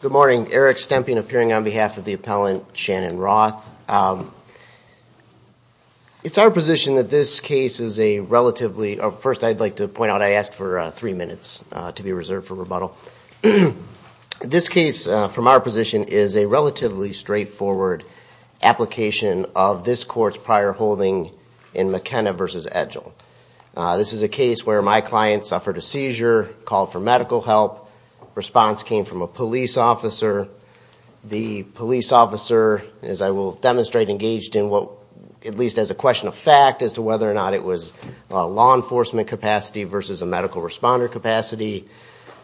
Good morning, Eric Stemping appearing on behalf of the appellant Shannon Roth. It's our position that this case is a relatively, first I'd like to point out I asked for three minutes to be reserved for rebuttal. This case from our position is a relatively straightforward application of this court's prior holding in McKenna v. Edgell. This is a case where my client suffered a seizure, called for medical help, response came from a police officer. The police officer, as I will demonstrate, engaged in what, at least as a question of fact as to whether or not it was law enforcement capacity versus a medical responder capacity.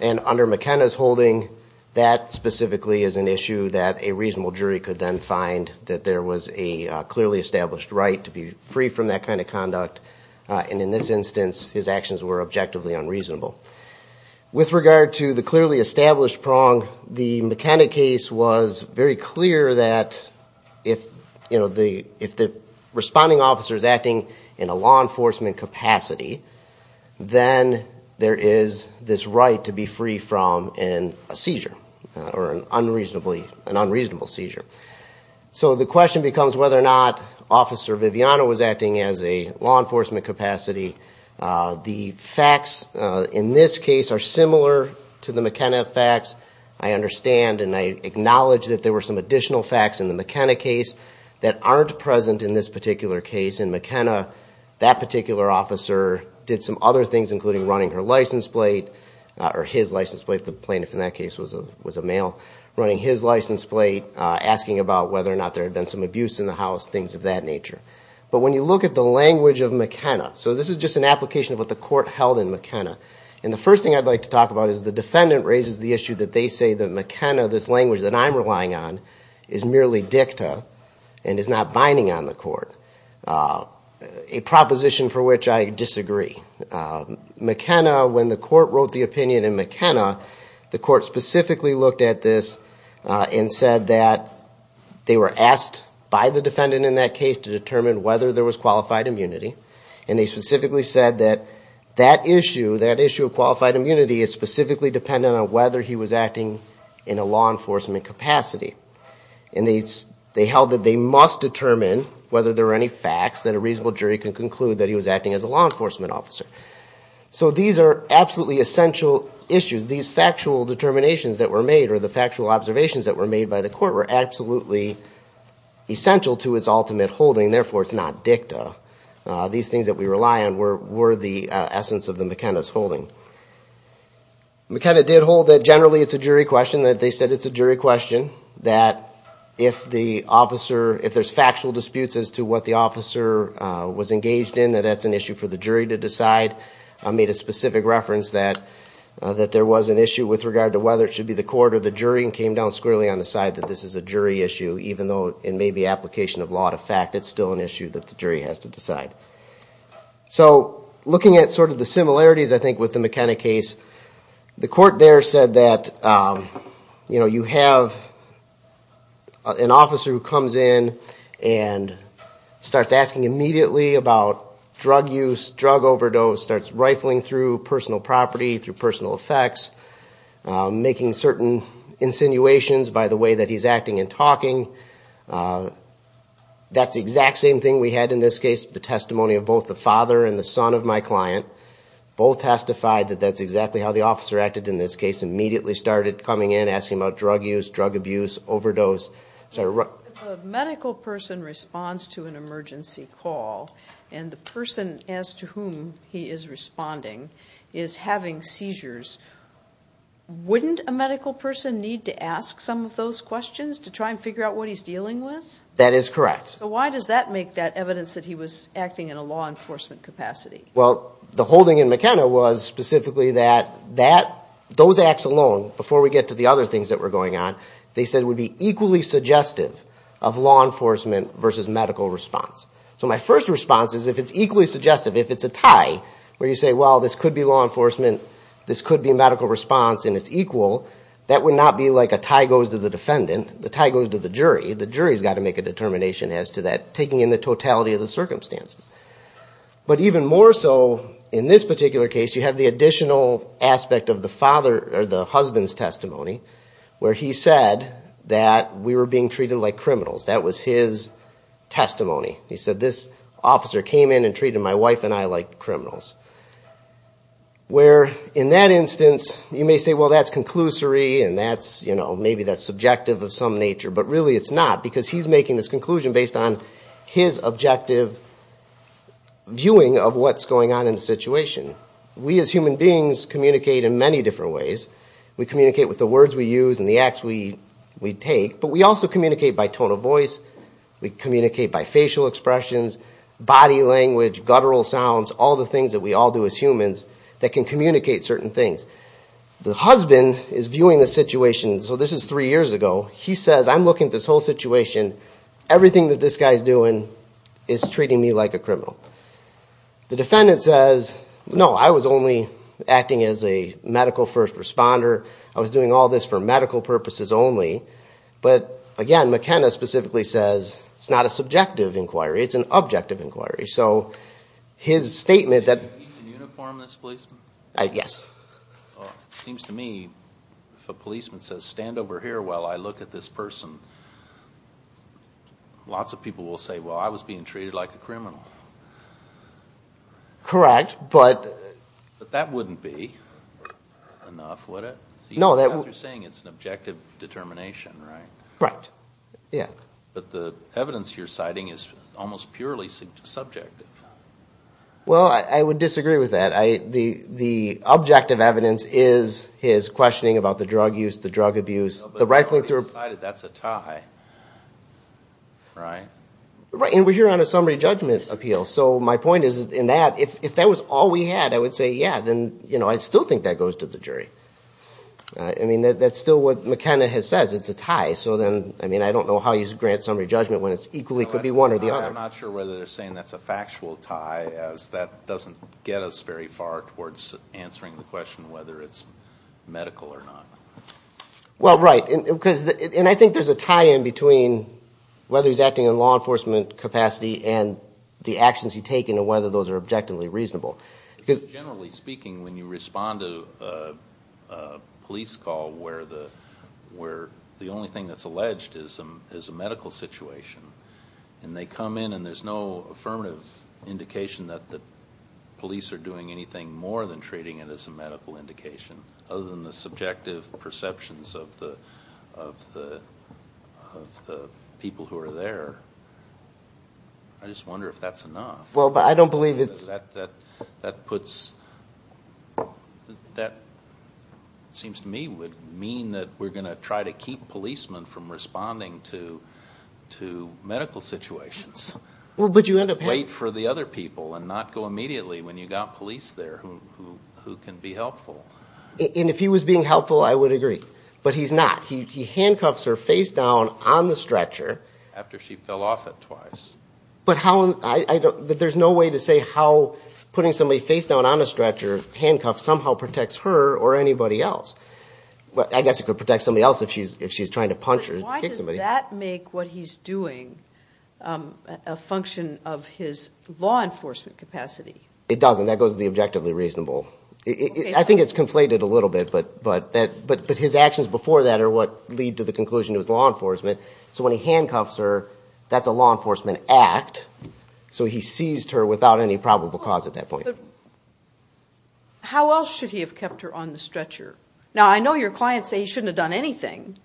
And under McKenna's holding, that specifically is an issue that a reasonable jury could then find that there was a clearly established right to be free from that kind of conduct. And in this instance, his actions were objectively unreasonable. With regard to the clearly established prong, the McKenna case was very clear that if the responding officer is acting in a law enforcement capacity, then there is this right to be free from a seizure or an unreasonable seizure. So the question becomes whether or not Officer Viviano was acting as a law enforcement capacity. The facts in this case are similar to the McKenna facts, I understand, and I acknowledge that there were some additional facts in the McKenna case that aren't present in this particular case. In McKenna, that particular officer did some other things, including running her license plate, or his license plate, the plaintiff in that case was a male, running his license plate, asking about whether or not there had been some abuse in the house, things of that nature. But when you look at the language of McKenna, so this is just an application of what the court held in McKenna, and the first thing I'd like to talk about is the defendant raises the issue that they say that McKenna, this language that I'm relying on, is merely dicta and is not binding on the court, a proposition for which I disagree. McKenna, when the court wrote the opinion in McKenna, the court specifically looked at this and said that they were asked by the defendant in that case to determine whether there was qualified immunity, and they specifically said that that issue, that issue of qualified immunity is specifically dependent on whether he was acting in a law enforcement capacity. They held that they must determine whether there are any facts that a reasonable jury can conclude that he was acting as a law enforcement officer. So these are absolutely essential issues, these factual determinations that were made or the factual observations that were made by the court were absolutely essential to its ultimate holding, therefore it's not dicta. These things that we rely on were the essence of McKenna's holding. McKenna did hold that generally it's a jury question, that they said it's a jury question, that if the officer, if there's factual disputes as to what the officer was engaged in, that that's an issue for the jury to decide. I made a specific reference that there was an issue with regard to whether it should be the court or the jury and came down squarely on the side that this is a jury issue, even though it may be application of law to fact, it's still an issue that the jury has to decide. So looking at sort of the similarities, I think, with the McKenna case, the court there said that, you know, you have an officer who comes in and starts asking immediately about drug use, drug overdose, starts rifling through personal property, through personal effects, making certain insinuations by the way that he's acting and talking. That's the exact same thing we had in this case, the testimony of both the father and the son of my client, both testified that that's exactly how the officer acted in this case, immediately started coming in, asking about drug use, drug abuse, overdose. A medical person responds to an emergency call and the person as to whom he is responding is having seizures. Wouldn't a medical person need to ask some of those questions to try and figure out what he's dealing with? That is correct. So why does that make that evidence that he was acting in a law enforcement capacity? Well the holding in McKenna was specifically that those acts alone, before we get to the other things that were going on, they said would be equally suggestive of law enforcement versus medical response. So my first response is if it's equally suggestive, if it's a tie, where you say, well this could be law enforcement, this could be medical response and it's equal, that would not be like a tie goes to the defendant, the tie goes to the jury. The jury's got to make a determination as to that, taking in the totality of the circumstances. But even more so, in this particular case, you have the additional aspect of the husband's testimony where he said that we were being treated like criminals. That was his testimony. He said this officer came in and treated my wife and I like criminals. Where in that instance, you may say, well that's conclusory and that's, you know, maybe that's subjective of some nature, but really it's not because he's making this conclusion based on his objective viewing of what's going on in the situation. We as human beings communicate in many different ways. We communicate with the words we use and the acts we take, but we also communicate by tone of voice, we communicate by facial expressions, body language, guttural sounds, all the things that we all do as humans that can communicate certain things. The husband is viewing the situation, so this is three years ago, he says, I'm looking at this whole situation, everything that this guy's doing is treating me like a criminal. The defendant says, no, I was only acting as a medical first responder, I was doing all this for medical purposes only. But again, McKenna specifically says, it's not a subjective inquiry, it's an objective inquiry. So his statement that- Can you uniform this policeman? Yes. It seems to me if a policeman says, stand over here while I look at this person, lots of people will say, well, I was being treated like a criminal. Correct, but- But that wouldn't be enough, would it? No, that would- You're saying it's an objective determination, right? Right. Yeah. But the evidence you're citing is almost purely subjective. Well I would disagree with that. The objective evidence is his questioning about the drug use, the drug abuse, the rightful inter- That's a tie. Right? Right, and we're here on a summary judgment appeal, so my point is in that, if that was all we had, I would say, yeah, then I still think that goes to the jury. That's still what McKenna has said, it's a tie. So then, I don't know how you grant summary judgment when it equally could be one or the other. I'm not sure whether they're saying that's a factual tie, as that doesn't get us very far towards answering the question whether it's medical or not. Well right, and I think there's a tie in between whether he's acting in law enforcement capacity and the actions he's taking and whether those are objectively reasonable. Because generally speaking, when you respond to a police call where the only thing that's alleged is a medical situation, and they come in and there's no affirmative indication that the police are doing anything more than treating it as a medical indication, other than the I just wonder if that's enough. Well, I don't believe it's... That puts... That seems to me would mean that we're going to try to keep policemen from responding to medical situations. But you end up having... Wait for the other people and not go immediately when you've got police there who can be helpful. And if he was being helpful, I would agree. But he's not. He handcuffs her face down on the stretcher... But how... I don't... There's no way to say how putting somebody face down on a stretcher, handcuffed, somehow protects her or anybody else. I guess it could protect somebody else if she's trying to punch or kick somebody. But why does that make what he's doing a function of his law enforcement capacity? It doesn't. That goes with the objectively reasonable. I think it's conflated a little bit, but his actions before that are what lead to the conclusion it was law enforcement. So when he handcuffs her, that's a law enforcement act. So he seized her without any probable cause at that point. How else should he have kept her on the stretcher? Now, I know your clients say he shouldn't have done anything,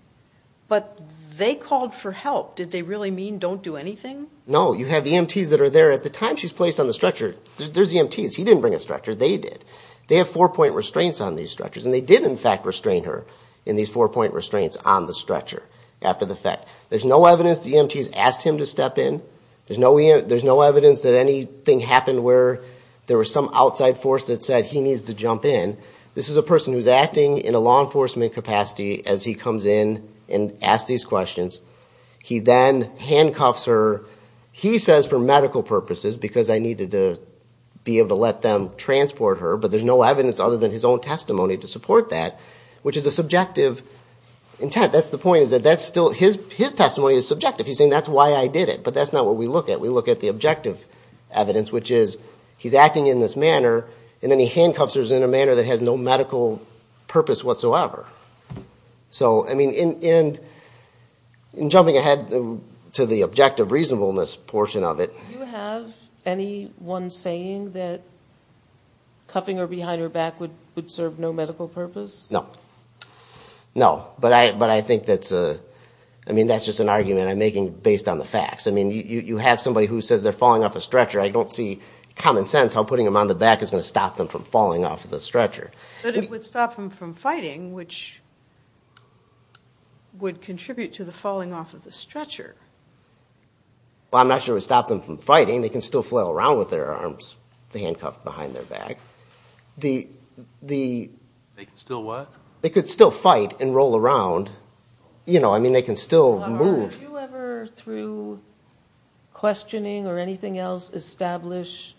but they called for help. Did they really mean don't do anything? No. You have EMTs that are there. At the time she's placed on the stretcher, there's EMTs. He didn't bring a stretcher. They did. They have four-point restraints on these stretchers, and they did in fact restrain her in these four-point restraints on the stretcher after the fact. There's no evidence the EMTs asked him to step in. There's no evidence that anything happened where there was some outside force that said he needs to jump in. This is a person who's acting in a law enforcement capacity as he comes in and asks these questions. He then handcuffs her, he says for medical purposes because I needed to be able to let them transport her, but there's no evidence other than his own testimony to support that, which is a subjective intent. That's the point. His testimony is subjective. He's saying that's why I did it, but that's not what we look at. We look at the objective evidence, which is he's acting in this manner, and then he handcuffs her in a manner that has no medical purpose whatsoever. In jumping ahead to the objective reasonableness portion of it... Do you have anyone saying that cuffing her behind her back would serve no medical purpose? No, but I think that's just an argument I'm making based on the facts. You have somebody who says they're falling off a stretcher. I don't see common sense how putting them on the back is going to stop them from falling off of the stretcher. But it would stop them from fighting, which would contribute to the falling off of the stretcher. Well, I'm not sure it would stop them from fighting. They can still flail around with their arms handcuffed behind their back. They can still work? They could still fight and roll around. They can still move. Are you ever, through questioning or anything else, establish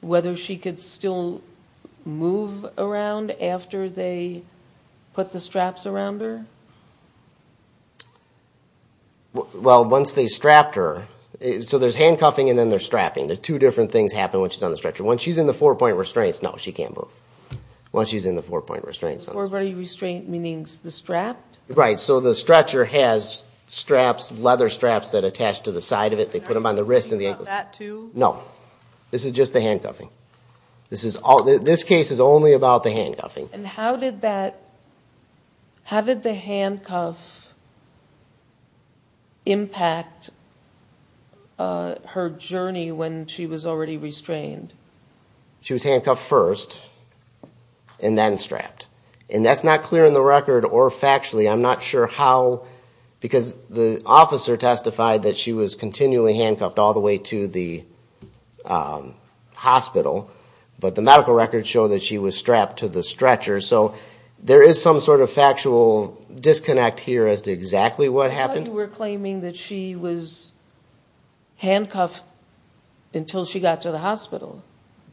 whether she could still move around after they put the straps around her? Well, once they strapped her... There's handcuffing and then there's strapping. The two different things happen when she's on the stretcher. Once she's in the four-point restraints, no, she can't move. Once she's in the four-point restraints... Four-point restraints, meaning the strap? Right. So the stretcher has straps, leather straps that attach to the side of it. They put them on the wrist and the ankles. Is that too? No. This is just the handcuffing. This case is only about the handcuffing. And how did the handcuff impact her journey when she was already restrained? She was handcuffed first and then strapped. And that's not clear in the record or factually. I'm not sure how, because the officer testified that she was continually handcuffed all the way to the hospital. But the medical records show that she was strapped to the stretcher. So there is some sort of factual disconnect here as to exactly what happened. I thought you were claiming that she was handcuffed until she got to the hospital.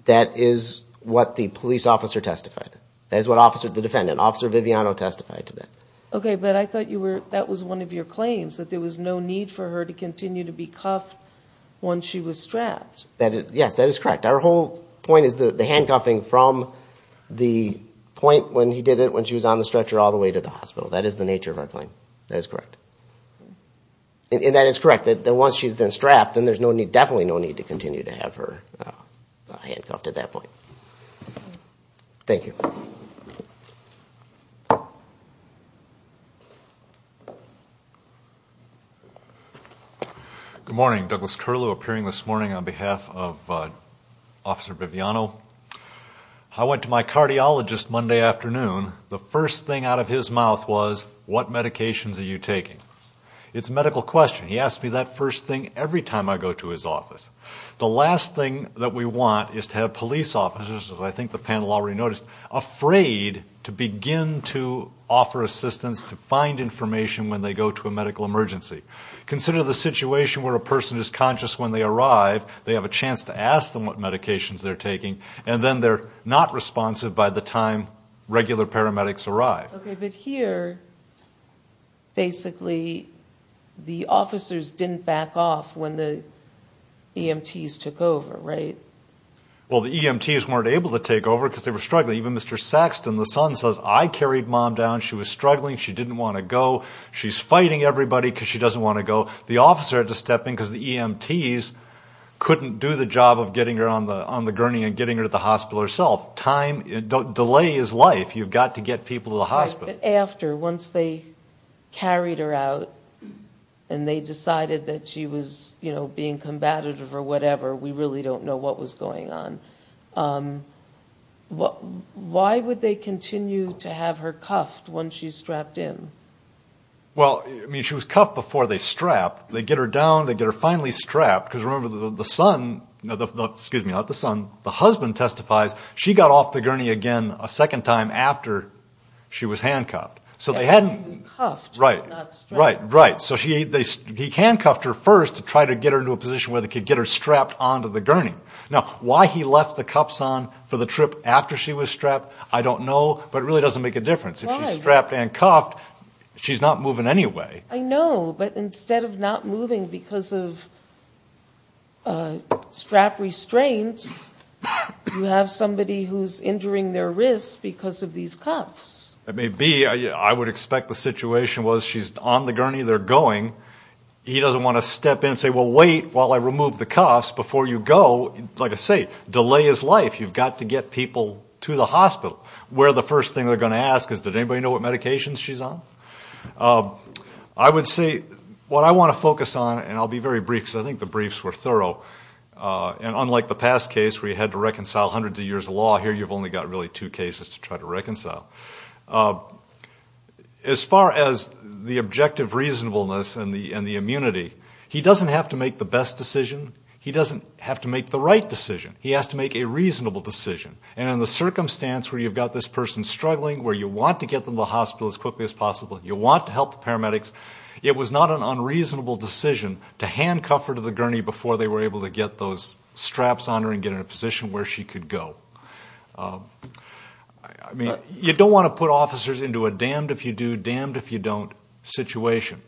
That is what the police officer testified. That is what the defendant, Officer Viviano, testified to that. Okay, but I thought that was one of your claims, that there was no need for her to continue to be cuffed once she was strapped. Yes, that is correct. Our whole point is the handcuffing from the point when he did it when she was on the stretcher all the way to the hospital. That is the nature of our claim. That is correct. And that is correct, that once she's been strapped, then there's definitely no need to continue to have her handcuffed at that point. Thank you. Good morning. Douglas Curlew, appearing this morning on behalf of Officer Viviano. I went to my cardiologist Monday afternoon. The first thing out of his mouth was, what medications are you taking? It's a medical question. He asks me that first thing every time I go to his office. The last thing that we want is to have police officers, as I think the panel already noticed, afraid to begin to offer assistance to find information when they go to a medical emergency. Consider the situation where a person is conscious when they arrive, they have a chance to ask them what medications they're taking, and then they're not responsive by the time regular paramedics arrive. Okay, but here, basically, the officers didn't back off when the EMTs took over, right? Well, the EMTs weren't able to take over because they were struggling. Even Mr. Saxton, the son, says, I carried mom down. She was struggling. She didn't want to go. She's fighting everybody because she doesn't want to go. The officer had to step in because the EMTs couldn't do the job of getting her on the gurney and getting her to the hospital herself. Time, delay is life. You've got to get people to the hospital. After, once they carried her out and they decided that she was being combative or whatever, we really don't know what was going on, why would they continue to have her cuffed once she's strapped in? Well, I mean, she was cuffed before they strapped. They get her down. They get her finally strapped. Because remember, the son, excuse me, not the son, the husband testifies. She got off the gurney again a second time after she was handcuffed. So they hadn't... She was cuffed. Right. Not strapped. Right. Right. So he handcuffed her first to try to get her into a position where they could get her strapped onto the gurney. Now, why he left the cuffs on for the trip after she was strapped, I don't know. But it really doesn't make a difference. Why? If she's strapped and cuffed, she's not moving anyway. I know. But instead of not moving because of strap restraints, you have somebody who's injuring their wrists because of these cuffs. It may be. I would expect the situation was she's on the gurney. They're going. He doesn't want to step in and say, well, wait while I remove the cuffs before you go. Like I say, delay is life. You've got to get people to the hospital. Where the first thing they're going to ask is, did anybody know what medications she's on? I would say what I want to focus on, and I'll be very brief because I think the briefs were thorough, and unlike the past case where you had to reconcile hundreds of years of law, here you've only got really two cases to try to reconcile. As far as the objective reasonableness and the immunity, he doesn't have to make the best decision. He doesn't have to make the right decision. He has to make a reasonable decision. And in the circumstance where you've got this person struggling, where you want to get them to the hospital as quickly as possible, you want to help the paramedics, it was not an unreasonable decision to handcuff her to the gurney before they were able to get those straps on her and get her in a position where she could go. You don't want to put officers into a damned if you do, damned if you don't situation.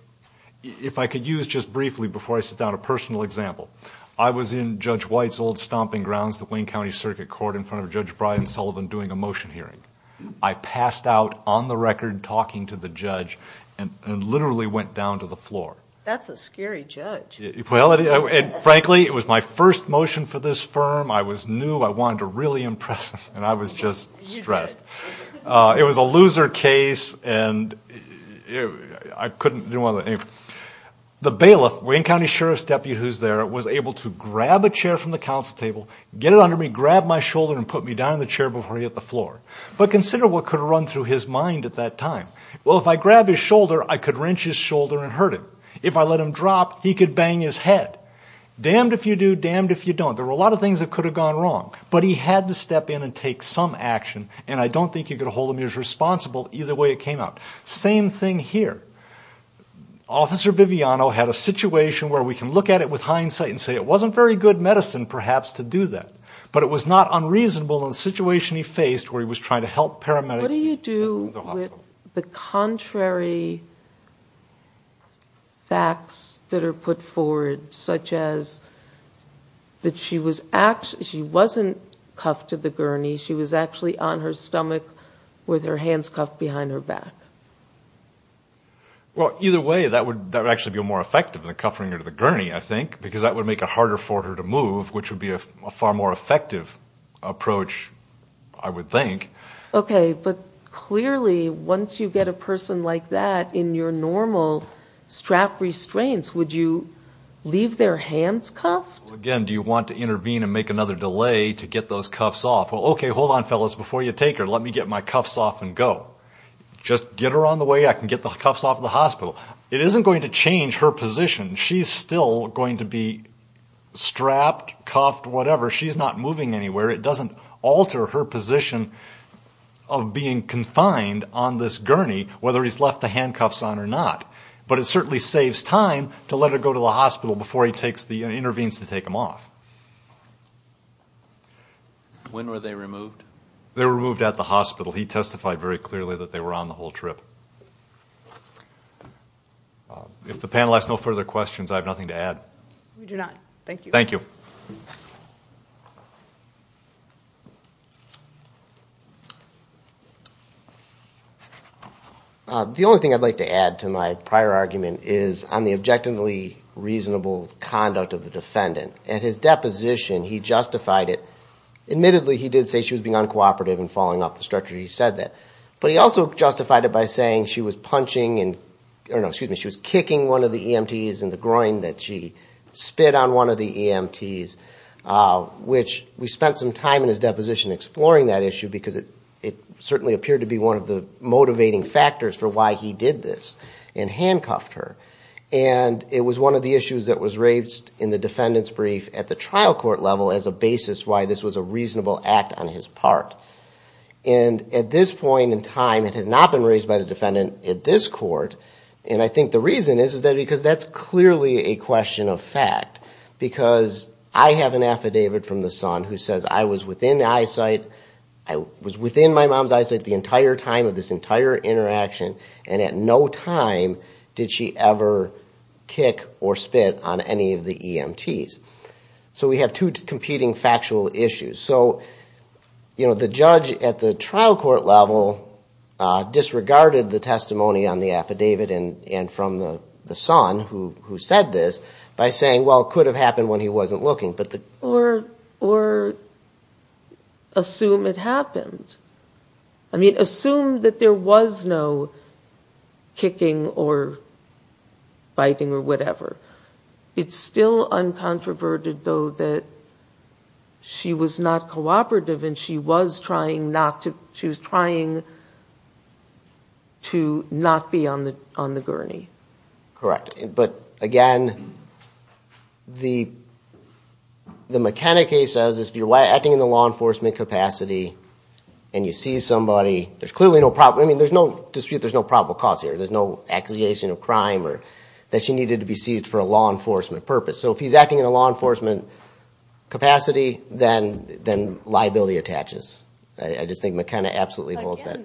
If I could use just briefly before I sit down a personal example, I was in Judge White's old stomping grounds, the Wayne County Circuit Court in front of Judge Brian Sullivan doing a motion hearing. I passed out on the record talking to the judge and literally went down to the floor. That's a scary judge. Well, frankly, it was my first motion for this firm. I was new. I wanted to really impress him, and I was just stressed. It was a loser case, and I couldn't do anything. The bailiff, Wayne County Sheriff's deputy who's there, was able to grab a chair from the council table, get it under me, grab my shoulder, and put me down in the chair before he hit the floor. But consider what could have run through his mind at that time. Well, if I grabbed his shoulder, I could wrench his shoulder and hurt him. If I let him drop, he could bang his head. Damned if you do, damned if you don't. There were a lot of things that could have gone wrong, but he had to step in and take some action, and I don't think you could hold him as responsible either way it came out. Same thing here. Officer Viviano had a situation where we can look at it with hindsight and say it wasn't very good medicine, perhaps, to do that, but it was not unreasonable in the situation he faced where he was trying to help paramedics in the hospital. What do you do with the contrary facts that are put forward, such as that she wasn't cuffed to the gurney, she was actually on her stomach with her hands cuffed behind her back? Well, either way, that would actually be more effective than cuffing her to the gurney, I think, because that would make it harder for her to move, which would be a far more effective approach, I would think. Okay, but clearly, once you get a person like that in your normal strap restraints, would you leave their hands cuffed? Again, do you want to intervene and make another delay to get those cuffs off? Well, okay, hold on, fellas, before you take her, let me get my cuffs off and go. Just get her on the way, I can get the cuffs off of the hospital. It isn't going to change her position. She's still going to be strapped, cuffed, whatever. She's not moving anywhere. It doesn't alter her position of being confined on this gurney, whether he's left the handcuffs on or not, but it certainly saves time to let her go to the hospital before he intervenes to take them off. When were they removed? They were removed at the hospital. He testified very clearly that they were on the whole trip. If the panel has no further questions, I have nothing to add. We do not. Thank you. Thank you. The only thing I'd like to add to my prior argument is on the objectively reasonable conduct of the defendant. At his deposition, he justified it. Admittedly, he did say she was being uncooperative and falling off the stretcher, he said that, but he also justified it by saying she was kicking one of the EMTs in the groin that she spit on one of the EMTs, which we spent some time in his deposition exploring that issue because it certainly appeared to be one of the motivating factors for why he did this and handcuffed her. It was one of the issues that was raised in the defendant's brief at the trial court level as a basis why this was a reasonable act on his part. At this point in time, it has not been raised by the defendant at this court. I think the reason is because that's clearly a question of fact because I have an affidavit from the son who says I was within my mom's eyesight the entire time of this entire interaction and at no time did she ever kick or spit on any of the EMTs. We have two competing factual issues. So, you know, the judge at the trial court level disregarded the testimony on the affidavit and from the son who said this by saying, well, it could have happened when he wasn't looking. Or assume it happened. I mean, assume that there was no kicking or biting or whatever. It's still uncontroverted, though, that she was not cooperative and she was trying to not be on the gurney. Correct. But, again, the mechanic case says if you're acting in the law enforcement capacity and you see somebody, there's clearly no dispute there's no probable cause here. There's no accusation of crime or that she needed to be seized for a law enforcement purpose. So if he's acting in a law enforcement capacity, then liability attaches. I just think McKenna absolutely holds that.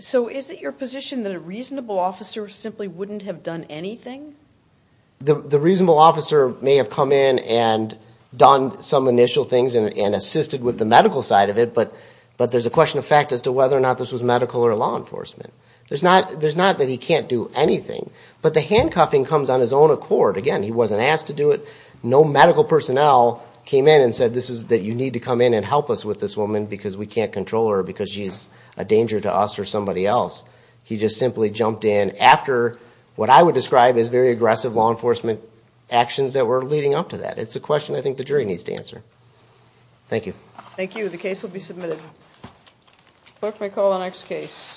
So is it your position that a reasonable officer simply wouldn't have done anything? The reasonable officer may have come in and done some initial things and assisted with the medical side of it, but there's a question of fact as to whether or not this was medical or law enforcement. There's not that he can't do anything. But the handcuffing comes on his own accord. Again, he wasn't asked to do it. No medical personnel came in and said that you need to come in and help us with this woman because we can't control her because she's a danger to us or somebody else. He just simply jumped in after what I would describe as very aggressive law enforcement actions that were leading up to that. It's a question I think the jury needs to answer. Thank you. Thank you. The case will be submitted. Thank you. I call the next case.